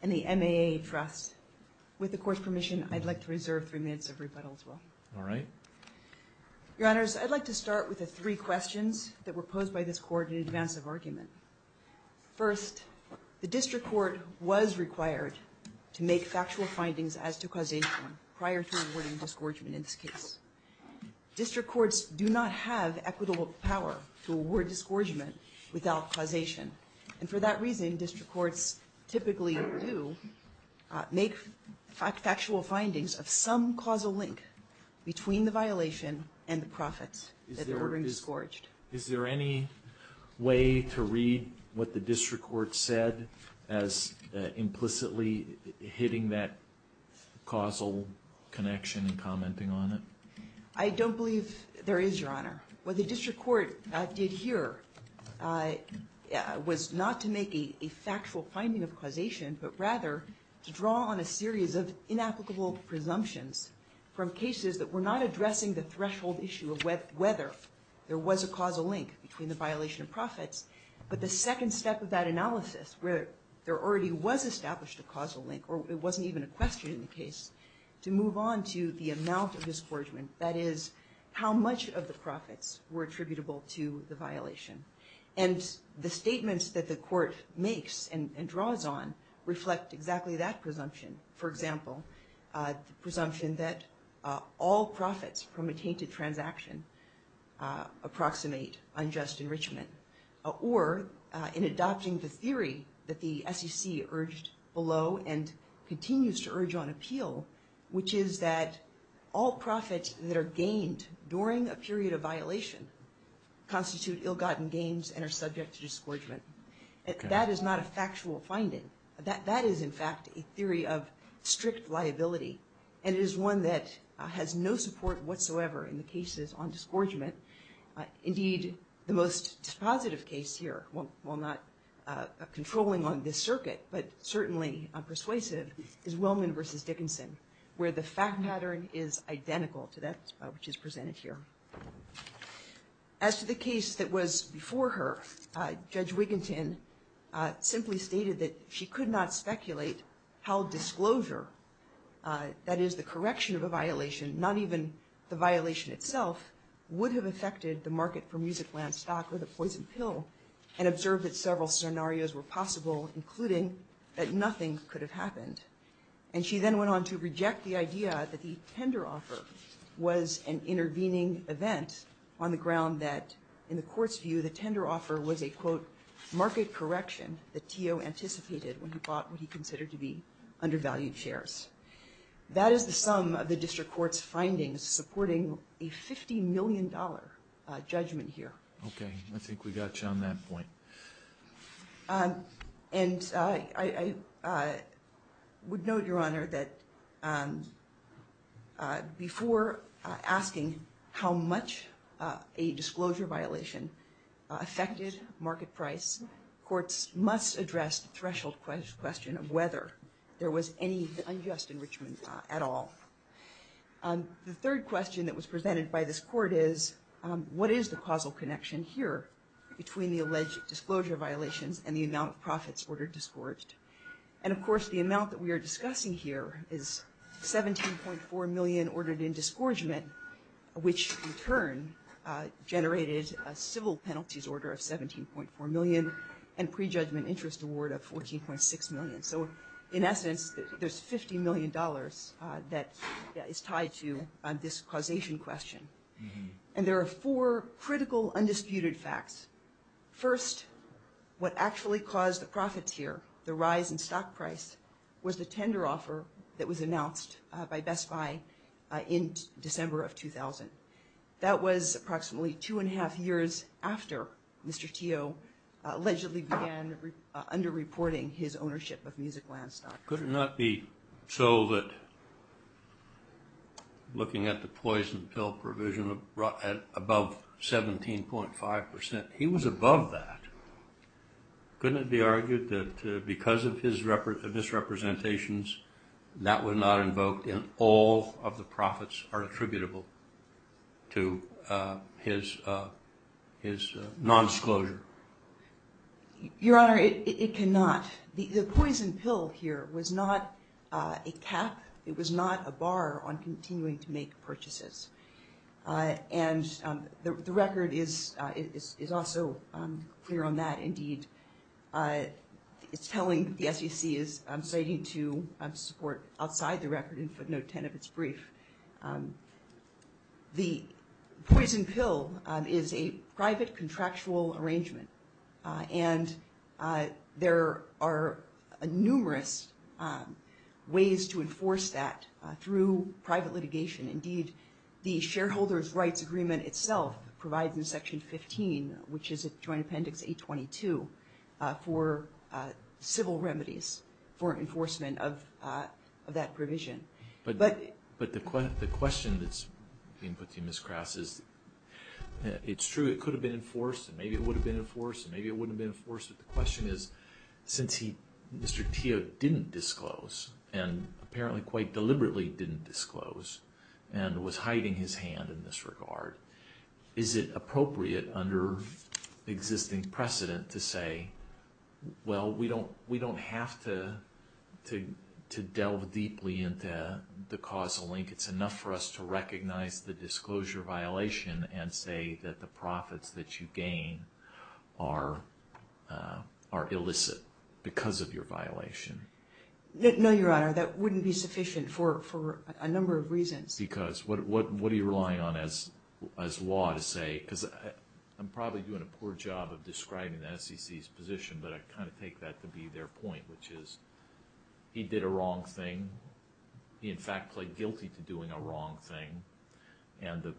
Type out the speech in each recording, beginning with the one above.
and the MAA Trust. With the Court's permission, I'd like to reserve three minutes of rebuttal as well. All right. Your Honors, I'd like to start with the three questions that were posed by this Court in advance of argument. First, the District Court was required to make factual findings as to causation prior to awarding disgorgement in this case. District Courts do not have equitable power to award disgorgement without causation. And for that reason, District Courts typically do make factual findings of some causal link between the violation and the profits that they're ordering disgorged. Is there any way to read what the District Court said as implicitly hitting that causal connection and commenting on it? I don't believe there is, Your Honor. What the District Court did here was not to make a factual finding of causation, but rather to draw on a series of inapplicable presumptions from cases that were not addressing the threshold issue of whether there was a causal link between the violation and profits. But the second step of that analysis, where there already was established a causal link, or it wasn't even a question in the case, to move on to the amount of disgorgement, that is, how much of the profits were attributable to the violation. And the statements that the Court makes and draws on reflect exactly that presumption. For example, the presumption that all profits from a tainted transaction approximate unjust enrichment, or in adopting the theory that the SEC urged below and continues to urge on appeal, which is that all profits that are gained during a period of violation constitute ill-gotten gains and are subject to disgorgement. That is not a factual finding. That is, in fact, a theory of strict liability. And it is one that has no support whatsoever in the most dispositive case here, while not controlling on this circuit, but certainly persuasive, is Willman v. Dickinson, where the fact pattern is identical to that which is presented here. As to the case that was before her, Judge Wiginton simply stated that she could not speculate how disclosure, that is, the correction of a violation, not even the violation itself, would have affected the market for music land stock or the poison pill, and observed that several scenarios were possible, including that nothing could have happened. And she then went on to reject the idea that the tender offer was an intervening event on the ground that, in the Court's view, the tender offer was a, quote, market correction that Tio anticipated when he bought what he considered to be undervalued shares. That is the sum of the District Court's supporting a $50 million judgment here. Okay. I think we got you on that point. And I would note, Your Honor, that before asking how much a disclosure violation affected market price, courts must address the threshold question of whether there was any unjust enrichment at all. The third question that was presented by this Court is, what is the causal connection here between the alleged disclosure violations and the amount of profits ordered disgorged? And of course, the amount that we are discussing here is $17.4 million ordered in disgorgement, which in turn generated a civil penalties order of $17.4 million and prejudgment interest award of $14.6 million. So in essence, there's $50 million that is tied to this causation question. And there are four critical, undisputed facts. First, what actually caused the profits here, the rise in stock price, was the tender offer that was announced by Best Buy in December of 2000. That was approximately two and a half years after Mr. Tio allegedly began undisputed reporting his ownership of music land stock. Could it not be so that, looking at the poison pill provision, above 17.5%, he was above that. Couldn't it be argued that because of his misrepresentations, that was not invoked and all of the profits are attributable to his non-disclosure? Your Honor, it cannot. The poison pill here was not a cap. It was not a bar on continuing to make purchases. And the record is also clear on that indeed. It's telling, the SEC is citing to support outside the record in footnote 10 of its brief. The poison pill is a private contractual arrangement. And there are numerous ways to enforce that through private litigation. Indeed, the shareholder's rights agreement itself provides in section 15, which is a joint appendix 822, for civil remedies for enforcement of that provision. But the question that's being put to you, Ms. Krass, is it's true it could have been enforced and maybe it would have been enforced and maybe it wouldn't have been enforced. But the question is, since Mr. Tio didn't disclose, and apparently quite deliberately didn't disclose, and was hiding his hand in this regard, is it appropriate under existing precedent to say, well, we don't have to delve deeply into the causal link. It's enough for us to recognize the disclosure violation and say that the profits that you gain are illicit because of your violation? No, Your Honor. That wouldn't be sufficient for a number of reasons. Because what are you relying on as law to say, because I'm probably doing a poor job of describing the SEC's position, but I kind of take that to be their point, which is, he did a wrong thing. He, in fact, pled guilty to doing a wrong thing. And the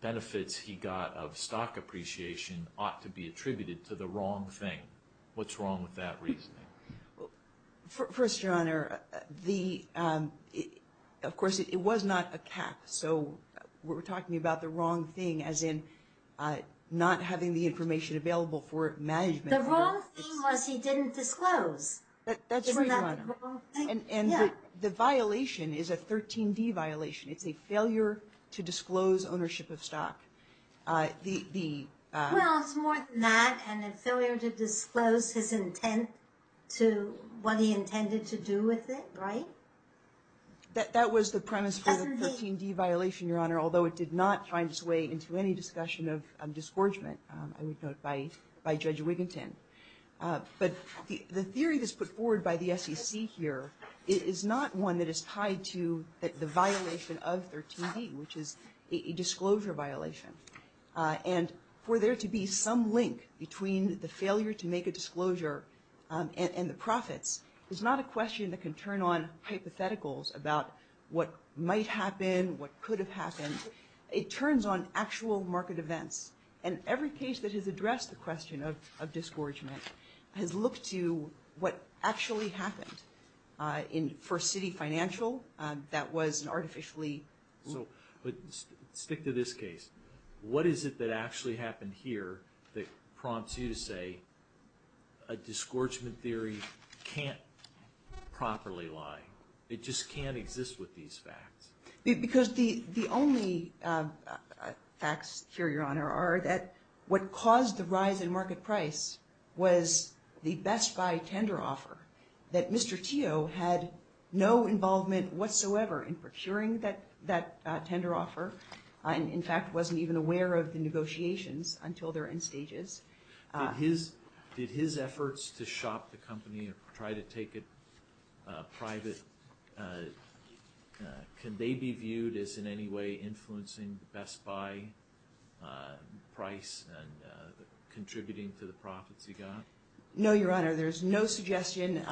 benefits he got of stock appreciation ought to be attributed to the wrong thing. What's wrong with that reasoning? First, Your Honor, of course, it was not a cap. So we're talking about the wrong thing as in not having the information available for management. The wrong thing was he didn't disclose. That's right, Your Honor. And the violation is a 13D violation. It's a failure to disclose ownership of stock. Well, it's more than that, and a failure to disclose his intent to what he intended to do with it, right? That was the premise for the 13D violation, Your Honor, although it did not find its way into any discussion of disgorgement, I would note, by Judge Wiginton. But the theory that's put forward by the SEC here is not one that is tied to the violation of 13D, which is a disclosure violation. And for there to be some link between the failure to make a disclosure and the profits is not a question that can turn on hypotheticals about what might happen, what could have happened. It turns on actual market events. And every case that has addressed the question of disgorgement has looked to what actually happened. For Citi Financial, that was an artificially... So stick to this case. What is it that actually happened here that prompts you to say a disgorgement theory can't properly lie? It just can't exist with these facts? Because the only facts here, Your Honor, are that what caused the rise in market price was the Best Buy tender offer, that Mr. Teo had no involvement whatsoever in procuring that tender offer, and in fact wasn't even aware of the negotiations until their end stages. Did his efforts to shop the company or try to take it private, can they be viewed as in any way influencing the Best Buy price and contributing to the profits he got? No, Your Honor. There's no suggestion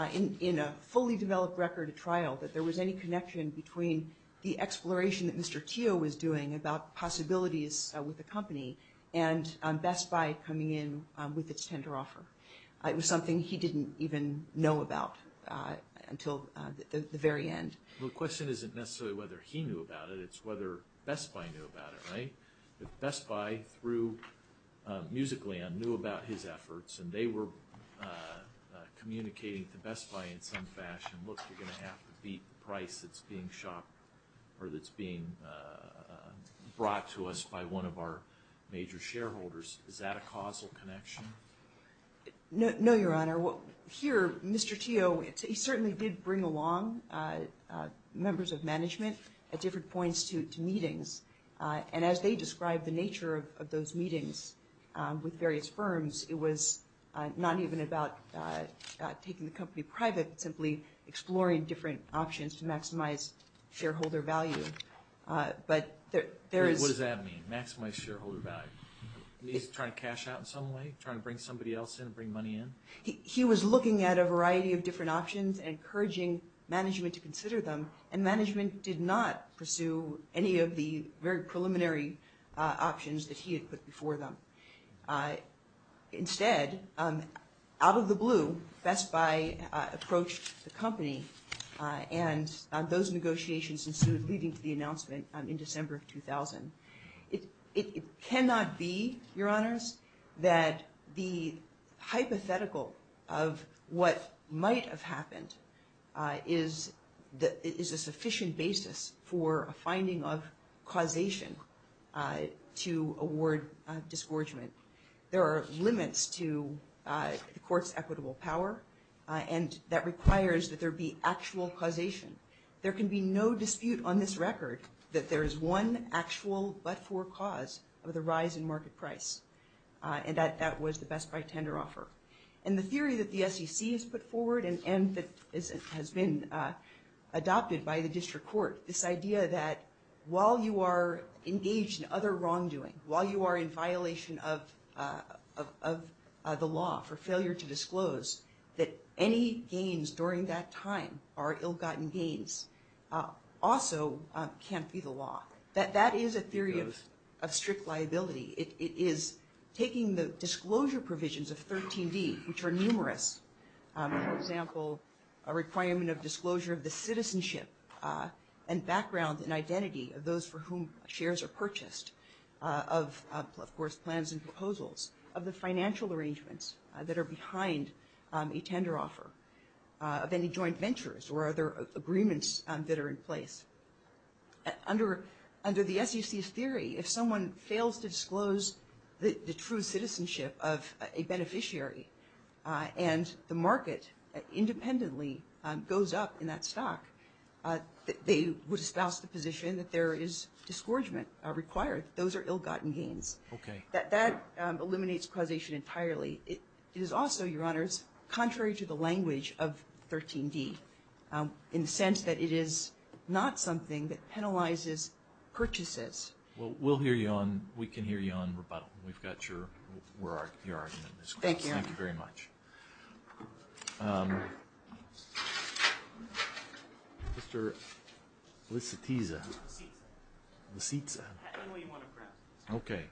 in a fully developed record at trial that there was any connection between the exploration that Mr. Teo was doing about possibilities with the company and Best Buy coming in with its tender offer. It was something he didn't even know about until the very end. The question isn't necessarily whether he knew about it, it's whether Best Buy knew about it, right? If Best Buy, through Musicland, knew about his efforts and they were communicating to Best Buy in some fashion, look, you're going to have to beat the price that's being brought to us by one of our major shareholders. Is that a causal connection? No, Your Honor. Here, Mr. Teo certainly did bring along members of management at different points to meetings, and as they described the nature of those meetings with various firms, it was not even about taking the company private, it was simply exploring different options to maximize shareholder value. What does that mean, maximize shareholder value? Is he trying to cash out in some way, trying to bring somebody else in, bring money in? He was looking at a variety of different options and encouraging management to consider them, and management did not pursue any of the very preliminary options that he had put before them. Instead, out of the blue, Best Buy approached the company, and those negotiations ensued leading to the announcement in December of 2000. It cannot be, Your Honors, that the hypothetical of what might have happened is a sufficient basis for a finding of causation to award disgorgement. There are limits to the court's equitable power, and that requires that there be actual causation. There can be no dispute on this record that there is one actual but-for cause of the rise in market price, and that was the Best Buy tender offer. And the theory that the SEC has put forward and that has been adopted by the district court, this idea that while you are engaged in other wrongdoing, while you are in violation of the law for failure to disclose, that any gains during that time are ill-gotten gains, also can't be the law. That is a theory of strict liability. It is taking the disclosure provisions of 13D, which are numerous, for example, a requirement of disclosure of the citizenship and background and identity of those for whom shares are purchased, of course plans and proposals, of the financial arrangements that are behind a tender offer, of any joint ventures or other agreements that are in place. Under the SEC's theory, if someone fails to disclose the true citizenship of a beneficiary and the market independently goes up in that category, they would espouse the position that there is disgorgement required. Those are ill-gotten gains. That eliminates causation entirely. It is also, Your Honors, contrary to the language of 13D in the sense that it is not something that penalizes purchases. Well, we'll hear you on, we can hear you on rebuttal. We've got your argument in this case. Mr. Licitiza. Licitza. Okay.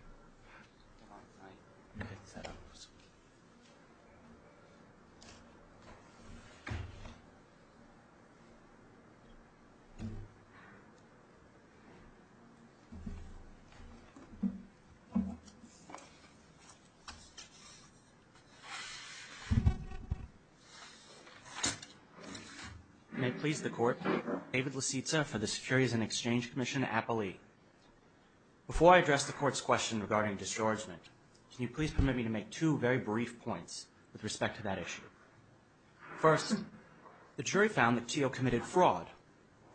May it please the Court, David Licitza for the Securities and Exchange Commission Appellee. Before I address the Court's question regarding disgorgement, can you please permit me to make two very brief points with respect to that issue. First, the jury found that Teal committed fraud.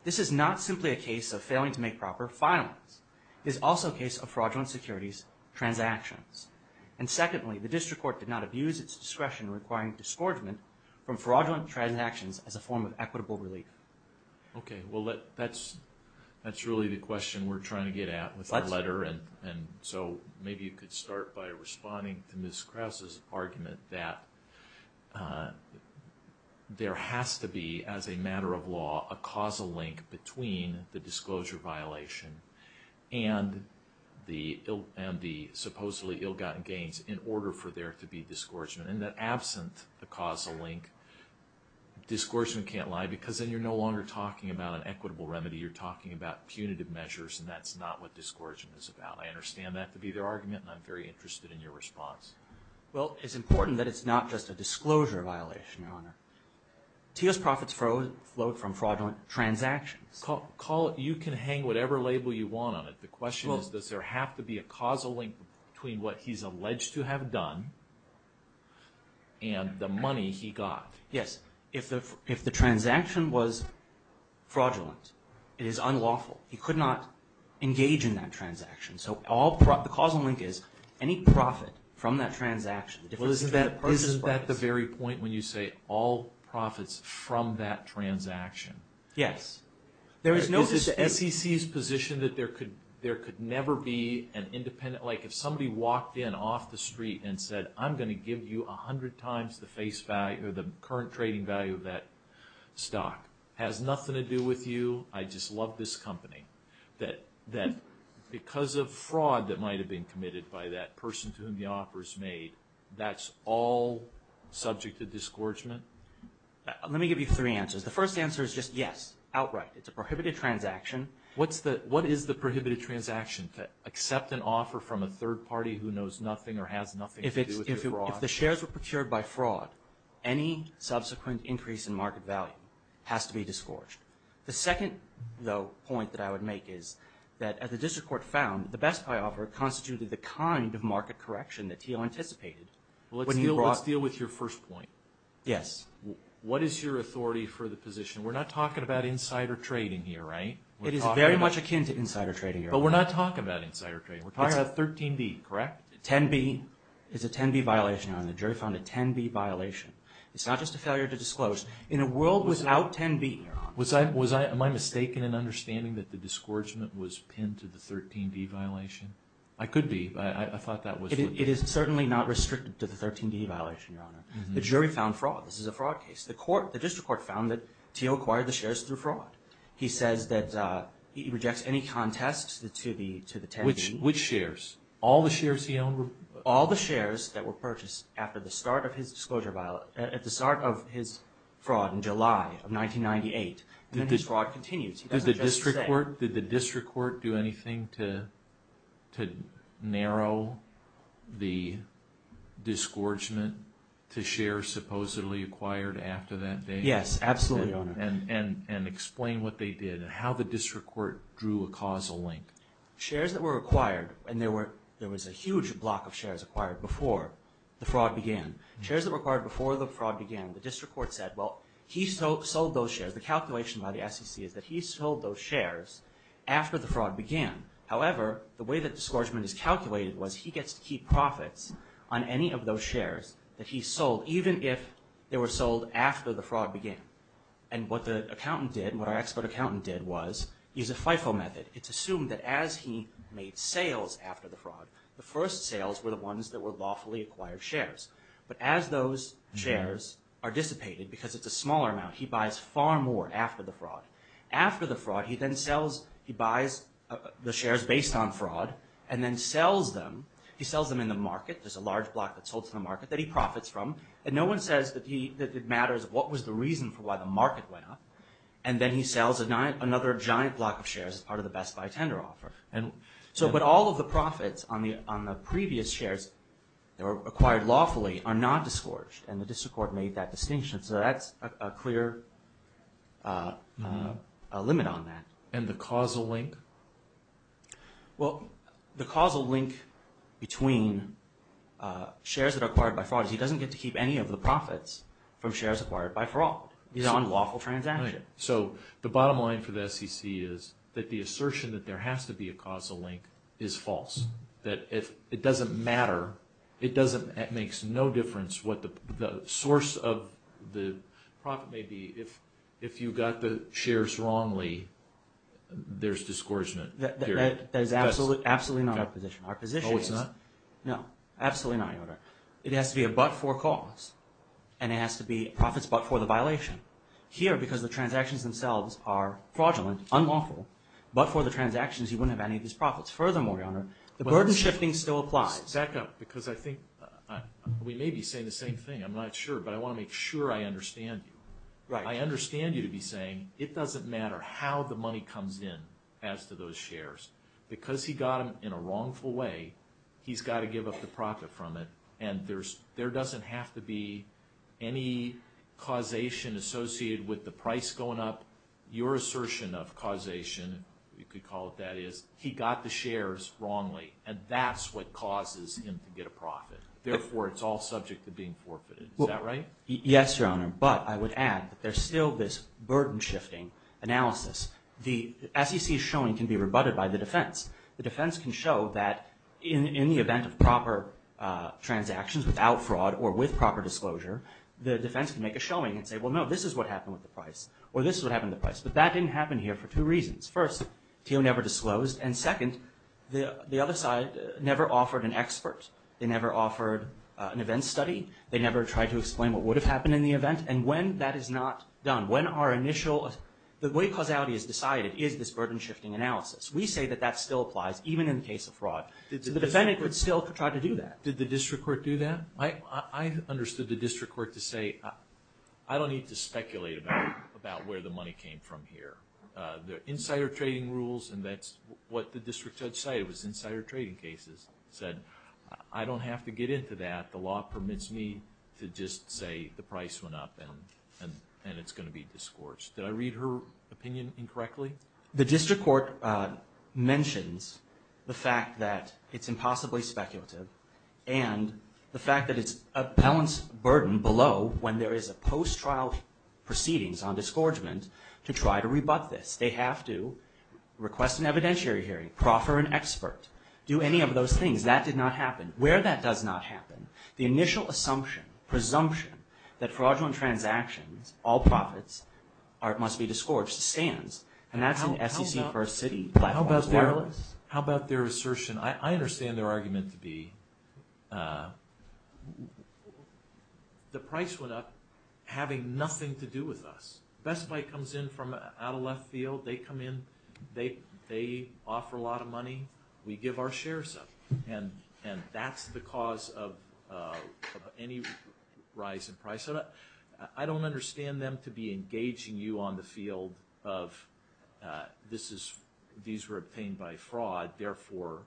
This is not simply a case of failing to make proper filings. It is also a case of fraudulent securities transactions. And secondly, the District Court did not abuse its discretion requiring disgorgement from fraudulent transactions as a form of equitable relief. Okay. Well, that's really the question we're trying to get at with our letter. And so maybe you could start by responding to Ms. Krause's argument that there has to be, as a matter of law, a causal link between the disclosure violation and the supposedly ill-gotten gains in order for there to be disgorgement. And that absent the causal link, disgorgement can't lie because then you're no longer talking about an equitable remedy. You're talking about punitive measures, and that's not what disgorgement is about. I understand that to be their argument, and I'm very interested in your response. Well, it's important that it's not just a disclosure violation, Your Honor. Teal's profits flowed from fraudulent transactions. You can hang whatever label you want on it. The question is, does there have to be a causal link between what he's alleged to have done and the money he got? Yes. If the transaction was fraudulent, it is unlawful. He could not engage in that transaction. So the causal link is any profit from that transaction. Well, isn't that the very point when you say all profits from that transaction? Yes. Because it's SEC's position that there could never be an independent, like if somebody walked in off the street and said, I'm going to give you a hundred times the face value or the current trading value of that stock. Has nothing to do with you. I just love this company. That because of fraud that might have been committed by that person to whom the offer is made, that's all subject to disgorgement? Let me give you three answers. The first answer is just yes, outright. It's a prohibited transaction. What is the prohibited transaction? To accept an offer from a third party who knows nothing or has nothing to do with your fraud? If the shares were procured by fraud, any subsequent increase in market value has to be disgorged. The second, though, point that I would make is that the district court found the Best Buy offer constituted the kind of market correction that Teal anticipated. Let's deal with your first point. Yes. What is your authority for the position? We're not talking about insider trading here, right? It is very much akin to insider trading, Your Honor. But we're not talking about insider trading. We're talking about 13B, correct? 10B. It's a 10B violation, Your Honor. The jury found a 10B violation. It's not just a failure to disclose. In a world without 10B, Your Honor. Was I, was I, am I mistaken in understanding that the disgorgement was pinned to the 13B violation? I could be, but I thought that was. It is certainly not restricted to the 13B violation, Your Honor. The jury found fraud. This is a fraud case. The court, the district court found that Teal acquired the shares through fraud. He says that he rejects any contests to the, to the 10B. Which, which shares? All the shares he owned? All the shares that were purchased after the start of his disclosure, at the start of his fraud in July of 1998. Then his fraud continues. He doesn't just say. The district court, did the district court do anything to, to narrow the disgorgement to shares supposedly acquired after that day? Yes, absolutely, Your Honor. And, and, and explain what they did and how the district court drew a causal link. Shares that were acquired, and there were, there was a huge block of shares acquired before the fraud began. Shares that were acquired before the fraud began. The district court said, well, he sold those shares. The calculation by the SEC is that he sold those shares after the fraud began. However, the way that disgorgement is calculated was he gets to keep profits on any of those shares that he sold, even if they were sold after the fraud began. And what the accountant did, what our expert accountant did was use a FIFO method. It's assumed that as he made sales after the fraud, the first sales were the ones that were lawfully acquired shares. But as those shares are dissipated, because it's a smaller amount, he buys far more after the fraud. After the fraud, he then sells, he buys the shares based on fraud and then sells them. He sells them in the market. There's a large block that's sold to the market that he profits from. And no one says that he, that it matters what was the reason for why the market went up. And then he sells another giant block of shares as part of the Best Buy tender offer. And so, but all of the profits on the, on the previous shares that were acquired lawfully are not disgorged. And the district court made that distinction. So that's a clear limit on that. And the causal link? Well, the causal link between shares that are acquired by fraud is he doesn't get to keep any of the profits from shares acquired by fraud. These are unlawful transactions. Right. So the bottom line for the SEC is that the assertion that there has to be a causal link is false. That if it doesn't matter, it doesn't, it makes no difference what the source of the profit may be. If, if you got the shares wrongly, there's disgorgement. That is absolutely, absolutely not our position. Oh, it's not? No, absolutely not, Your Honor. It has to be a but-for cause. And it has to be profits but for the violation. Here, because the transactions themselves are fraudulent, unlawful, but for the transactions you wouldn't have any of these profits. Furthermore, Your Honor, the burden shifting still applies. Second, because I think we may be saying the same thing. I'm not sure, but I want to make sure I understand you. Right. I understand you to be saying it doesn't matter how the money comes in as to those shares. Because he got them in a wrongful way, he's got to give up the profit from it. And there's, there doesn't have to be any causation associated with the price going up. Your assertion of causation, you could call it that, is he got the shares wrongly. And that's what causes him to get a profit. Therefore, it's all subject to being forfeited. Is that right? Yes, Your Honor. But I would add that there's still this burden shifting analysis. The SEC showing can be rebutted by the defense. The defense can show that in the event of proper transactions without fraud or with proper disclosure, the defense can make a showing and say, well, no, this is what happened with the price. Or this is what happened to the price. But that didn't happen here for two reasons. First, TO never disclosed. And second, the other side never offered an expert. They never offered an event study. They never tried to explain what would have happened in the event. And when that is not done, when our initial, the way causality is decided is this burden shifting analysis. We say that that still applies even in the case of fraud. The defendant would still try to do that. Did the district court do that? I understood the district court to say, I don't need to speculate about where the money came from here. They're insider trading rules and that's what the district judge said. It was insider trading cases. He said, I don't have to get into that. The law permits me to just say the price went up and it's going to be disgorged. Did I read her opinion incorrectly? The district court mentions the fact that it's impossibly speculative and the district court did not allow proceedings on disgorgement to try to rebut this. They have to request an evidentiary hearing, proffer an expert, do any of those things. That did not happen. Where that does not happen, the initial assumption, presumption that fraudulent transactions, all profits must be disgorged stands. And that's an SEC first city black box wireless. How about their assertion, I understand their argument to be the price went up having nothing to do with us. Best Buy comes in from out of left field, they come in, they offer a lot of money, we give our shares up. And that's the cause of any rise in price. I don't understand them to be engaging you on the field of, these were obtained by fraud, therefore,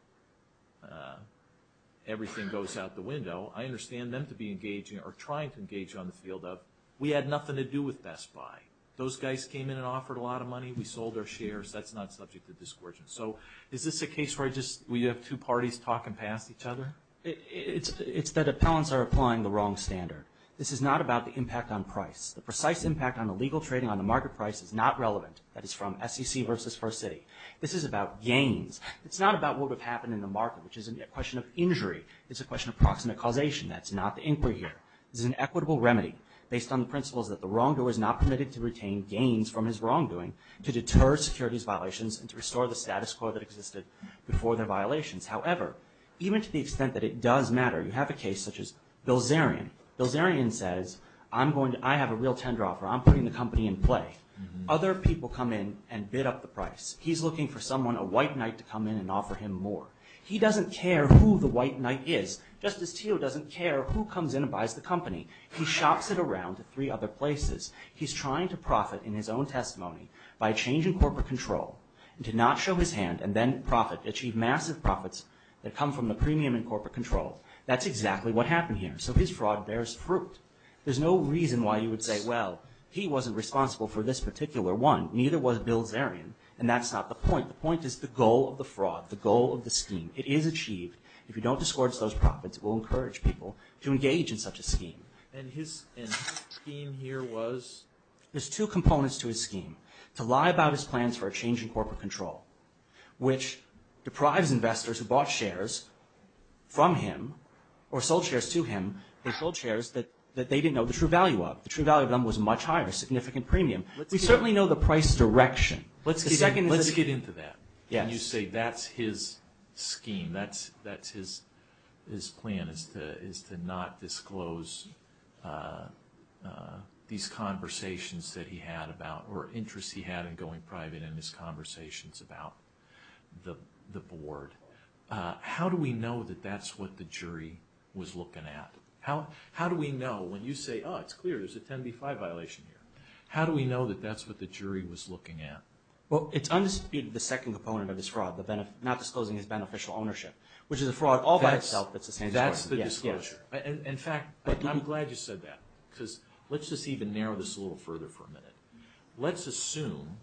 everything goes out the window. I understand them to be engaging or trying to engage on the field of, we had nothing to do with Best Buy. Those guys came in and offered a lot of money, we sold our shares, that's not subject to disgorgement. So is this a case where we have two parties talking past each other? It's that appellants are applying the wrong standard. This is not about the impact on price. The precise impact on the legal trading on the market price is not relevant. That is from SEC versus first city. This is about gains. It's not about what would have happened in the market, which is a question of injury. It's a question of proximate causation. That's not the inquiry here. This is an equitable remedy based on the principles that the wrongdoer is not permitted to retain gains from his wrongdoing to deter securities violations and to restore the status quo that existed before their violations. However, even to the extent that it does matter, you have a case such as Bilzerian. Bilzerian says, I have a real tender offer, I'm putting the company in play. Other people come in and bid up the price. He's looking for someone, a white knight, to come in and offer him more. He doesn't care who the white knight is, just as Teo doesn't care who comes in and buys the company. He shops it around to three other places. He's trying to profit in his own testimony by a change in corporate control and to not show his hand and then profit, achieve massive profits that come from the premium in corporate control. That's exactly what happened here. So his fraud bears fruit. There's no reason why you would say, well, he wasn't responsible for this particular one, neither was Bilzerian, and that's not the point. The point is the goal of the fraud, the goal of the scheme. It is achieved. If you don't discourage those profits, it will encourage people to engage in such a scheme. And his scheme here was? There's two components to his scheme. To lie about his plans for a change in corporate control, which deprives investors who bought shares from him or sold shares to him, or sold shares that they didn't know the true value of. The true value of them was much higher, significant premium. We certainly know the price direction. Let's get into that. When you say that's his scheme, that's his plan, is to not disclose these conversations that he had about, or interests he had in going private in his conversations about the board. How do we know that that's what the jury was looking at? How do we know when you say, oh, it's a 335 violation here. How do we know that that's what the jury was looking at? Well, it's undisputed the second component of this fraud, not disclosing his beneficial ownership, which is a fraud all by itself that's a sanctuary. That's the disclosure. In fact, I'm glad you said that, because let's just even narrow this a little further for a minute. Let's assume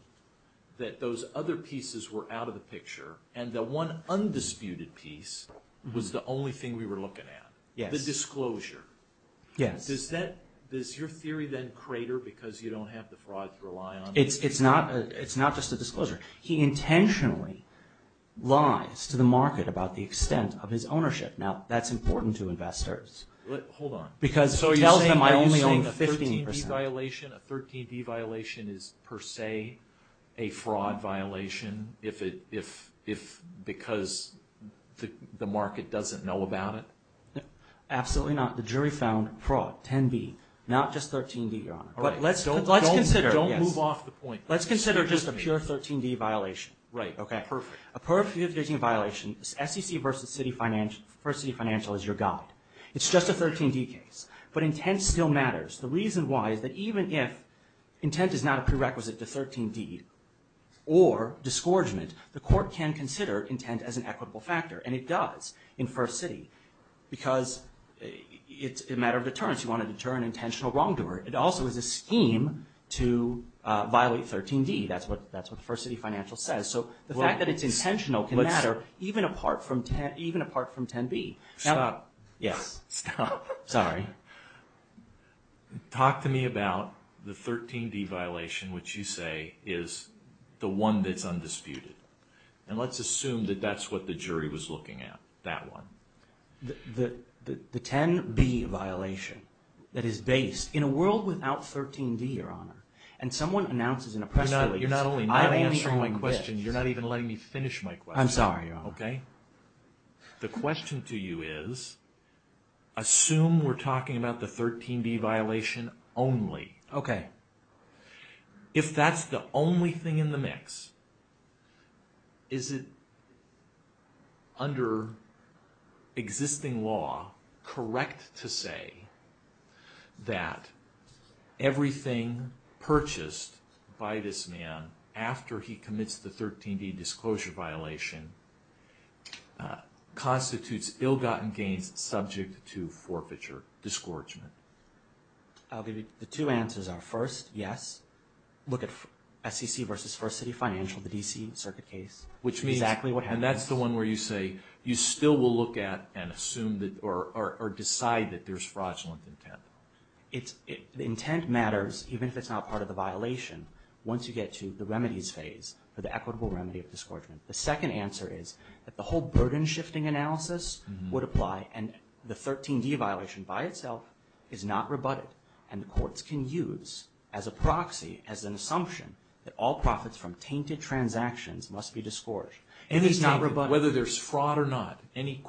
that those other pieces were out of the picture, and the one undisputed piece was the only thing we were looking at. The disclosure. Does your theory then crater because you don't have the fraud to rely on? It's not just a disclosure. He intentionally lies to the market about the extent of his ownership. Now, that's important to investors. Hold on. Because it tells them I only own 15%. So you're saying a 13D violation is per se a fraud violation because the Absolutely not. The jury found fraud, 10B, not just 13D, Your Honor. Don't move off the point. Let's consider just a pure 13D violation. Right, perfect. A pure 13D violation, SEC versus First City Financial is your guide. It's just a 13D case, but intent still matters. The reason why is that even if intent is not a prerequisite to 13D or disgorgement, the court can consider intent as an equitable factor, and it does in First City because it's a matter of deterrence. You want to deter an intentional wrongdoer. It also is a scheme to violate 13D. That's what First City Financial says. So the fact that it's intentional can matter even apart from 10B. Stop. Yes. Stop. Sorry. Talk to me about the 13D violation, which you say is the one that's undisputed. And let's assume that that's what the jury was looking at, that one. The 10B violation that is based in a world without 13D, Your Honor, and someone announces in a press release, I'm only on this. You're not answering my question. You're not even letting me finish my question. I'm sorry, Your Honor. Okay? The question to you is, assume we're talking about the 13B violation only. Okay. If that's the only thing in the mix, is it, under existing law, correct to say that everything purchased by this man after he commits the 13D disclosure violation constitutes ill-gotten gains subject to forfeiture, disgorgement? The two answers are, first, yes. Look at SEC versus First City Financial, the D.C. circuit case, which is exactly what happens. And that's the one where you say you still will look at and assume or decide that there's fraudulent intent. The intent matters, even if it's not part of the violation, once you get to the remedies phase for the equitable remedy of disgorgement. The second answer is that the whole burden-shifting analysis would apply, and the 13D violation by itself is not rebutted. And the courts can use as a proxy, as an assumption, that all profits from tainted transactions must be disgorged. And it's not rebutted. Whether there's fraud or not, any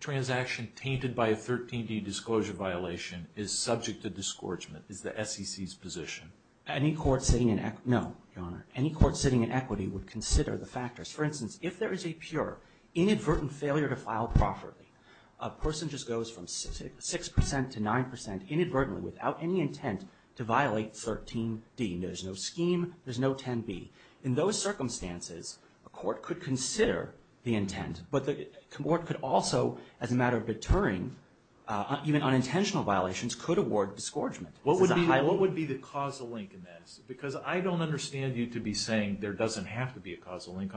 transaction tainted by a 13D disclosure violation is subject to disgorgement, is the SEC's position. Any court sitting in equity, no, Your Honor. Any court sitting in equity would consider the factors. For instance, if there is a pure inadvertent failure to file properly, a person just goes from 6% to 9% inadvertently without any intent to violate 13D. There's no scheme. There's no 10B. In those circumstances, a court could consider the intent. But the court could also, as a matter of deterring even unintentional violations, could award disgorgement. What would be the causal link in this? On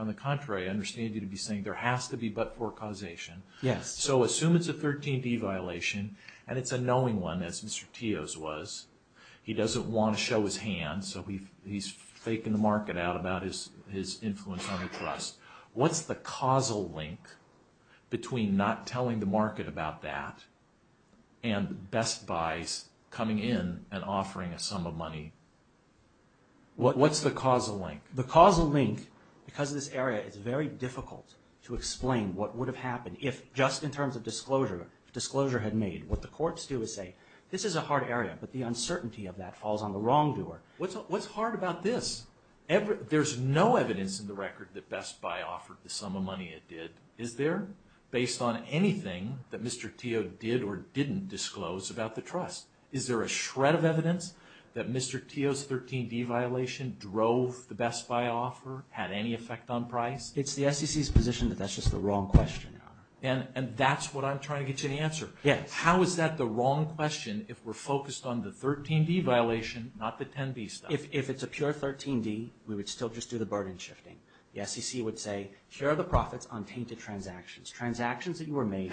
the contrary, I understand you to be saying there has to be but-for causation. Yes. So assume it's a 13D violation, and it's a knowing one, as Mr. Teo's was. He doesn't want to show his hand, so he's faking the market out about his influence on the trust. What's the causal link between not telling the market about that and Best Buy's coming in and offering a sum of money? What's the causal link? The causal link, because of this area, is very difficult to explain what would have happened if, just in terms of disclosure, disclosure had made. What the courts do is say, this is a hard area, but the uncertainty of that falls on the wrongdoer. What's hard about this? There's no evidence in the record that Best Buy offered the sum of money it did. Is there? Based on anything that Mr. Teo did or didn't disclose about the trust. Is there a shred of evidence that Mr. Teo's 13D violation drove the Best Buy offer, had any effect on price? It's the SEC's position that that's just the wrong question, Your Honor. And that's what I'm trying to get you to answer. Yes. How is that the wrong question if we're focused on the 13D violation, not the 10B stuff? If it's a pure 13D, we would still just do the burden shifting. The SEC would say, here are the profits on tainted transactions, transactions that you were made,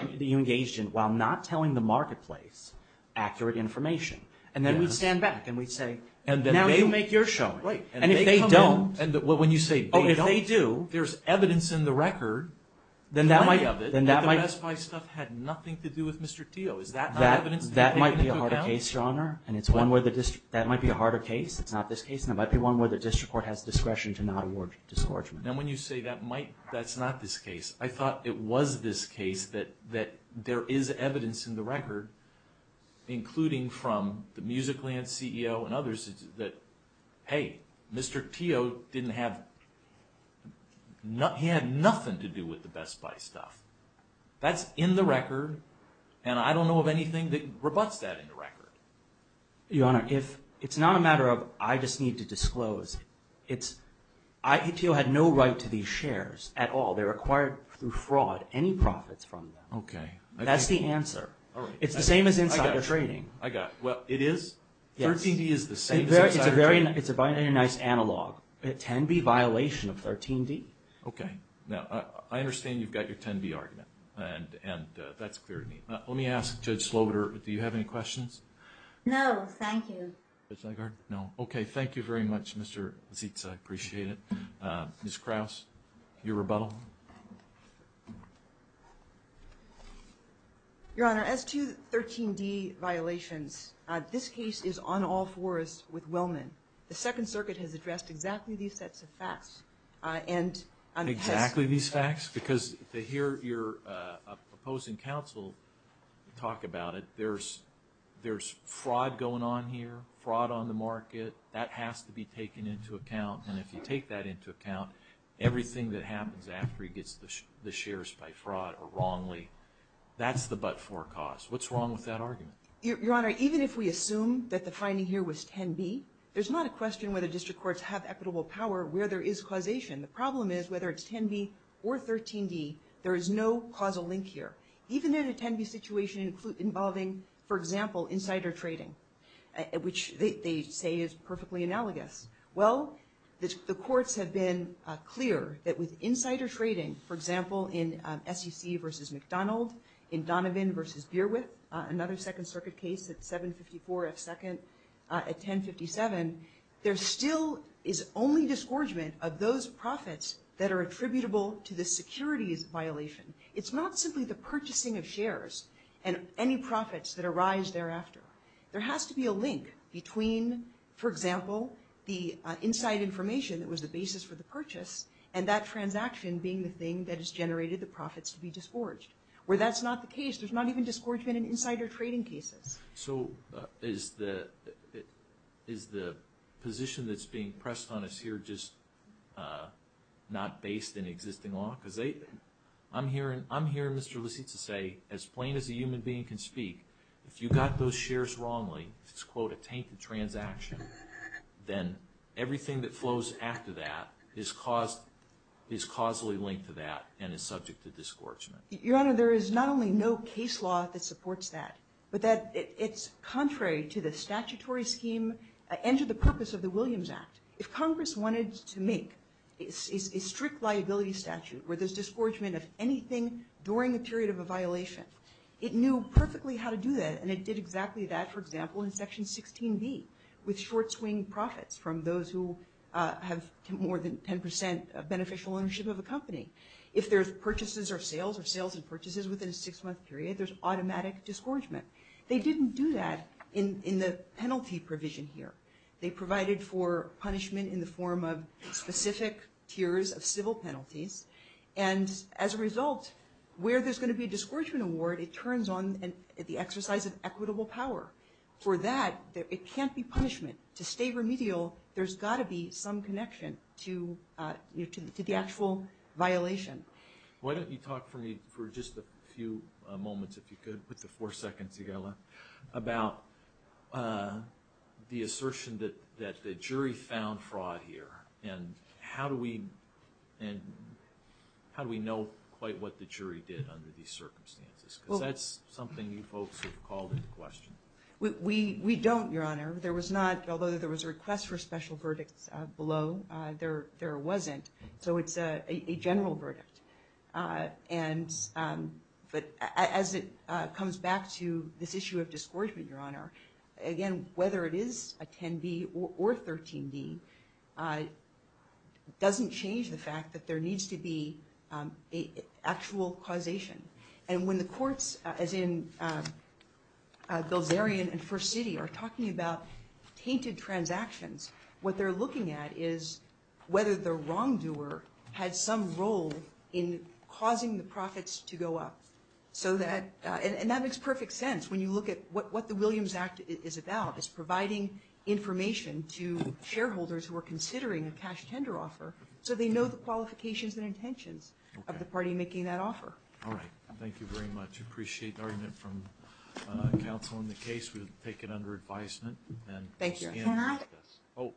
that you engaged in, while not telling the marketplace accurate information. And then we'd stand back and we'd say, now you make your showing. And if they don't? When you say they don't, there's evidence in the record, plenty of it, that the Best Buy stuff had nothing to do with Mr. Teo. Is that not evidence? That might be a harder case, Your Honor. That might be a harder case. It's not this case. And it might be one where the district court has discretion to not award discouragement. And when you say that's not this case, I thought it was this case, that there is evidence in the record, including from the Music Land CEO and others, that, hey, Mr. Teo didn't have, he had nothing to do with the Best Buy stuff. That's in the record. And I don't know of anything that rebutts that in the record. Your Honor, it's not a matter of I just need to disclose. It's, Teo had no right to these shares at all. They were acquired through fraud, any profits from them. Okay. That's the answer. It's the same as insider trading. I got it. Well, it is? Yes. 13D is the same as insider trading? It's a very nice analog. 10B violation of 13D. Okay. Now, I understand you've got your 10B argument. And that's clear to me. Let me ask Judge Slobiter, do you have any questions? No, thank you. Judge Nygard? No. Okay. Thank you very much, Mr. Zeitz. I appreciate it. Ms. Krause, your rebuttal. Your Honor, as to 13D violations, this case is on all fours with Willman. The Second Circuit has addressed exactly these sets of facts. Exactly these facts? Because to hear your opposing counsel talk about it, there's fraud going on here, fraud on the market. That has to be taken into account. And if you take that into account, everything that happens after he gets the shares by fraud or wrongly, that's the but-for cause. What's wrong with that argument? Your Honor, even if we assume that the finding here was 10B, there's not a question whether district courts have equitable power where there is causation. The problem is whether it's 10B or 13D, there is no causal link here. Even in a 10B situation involving, for example, insider trading, which they say is perfectly analogous. Well, the courts have been clear that with insider trading, for example, in SEC versus McDonald, in Donovan versus Beerwit, another Second Circuit case at 754 F2nd at 1057, there still is only disgorgement of those profits that are attributable to the securities violation. It's not simply the purchasing of shares and any profits that arise thereafter. There has to be a link between, for example, the inside information that was the basis for the purchase and that transaction being the thing that has generated the profits to be disgorged. Where that's not the case, there's not even disgorgement in insider trading cases. So is the position that's being pressed on us here just not based in existing law? I'm hearing Mr. Lisitsa say, as plain as a human being can speak, if you got those shares wrongly, if it's, quote, a tainted transaction, then everything that flows after that is causally linked to that and is subject to disgorgement. Your Honor, there is not only no case law that supports that, but it's contrary to the statutory scheme and to the purpose of the Williams Act. If Congress wanted to make a strict liability statute where there's disgorgement of anything during a period of a violation, it knew perfectly how to do that, and it did exactly that, for example, in Section 16B with short-swing profits from those who have more than 10% of beneficial ownership of a company. If there's purchases or sales or sales and purchases within a six-month period, there's automatic disgorgement. They didn't do that in the penalty provision here. They provided for punishment in the form of specific tiers of civil penalties, and as a result, where there's going to be a disgorgement award, it turns on the exercise of equitable power. For that, it can't be punishment. To stay remedial, there's got to be some connection to the actual violation. Why don't you talk for me for just a few moments, if you could, put the four seconds together, about the assertion that the jury found fraud here, and how do we know quite what the jury did under these circumstances? Because that's something you folks have called into question. We don't, Your Honor. Although there was a request for special verdicts below, there wasn't, so it's a general verdict. But as it comes back to this issue of disgorgement, Your Honor, again, whether it is a 10-D or a 13-D, doesn't change the fact that there needs to be actual causation. And when the courts, as in Bilzerian and First City, are talking about tainted transactions, what they're looking at is whether the wrongdoer had some role in causing the profits to go up. And that makes perfect sense when you look at what the Williams Act is about, is providing information to shareholders who are considering a cash tender offer so they know the qualifications and intentions of the party making that offer. All right. Thank you very much. I appreciate the argument from counsel in the case. We'll take it under advisement. Thank you.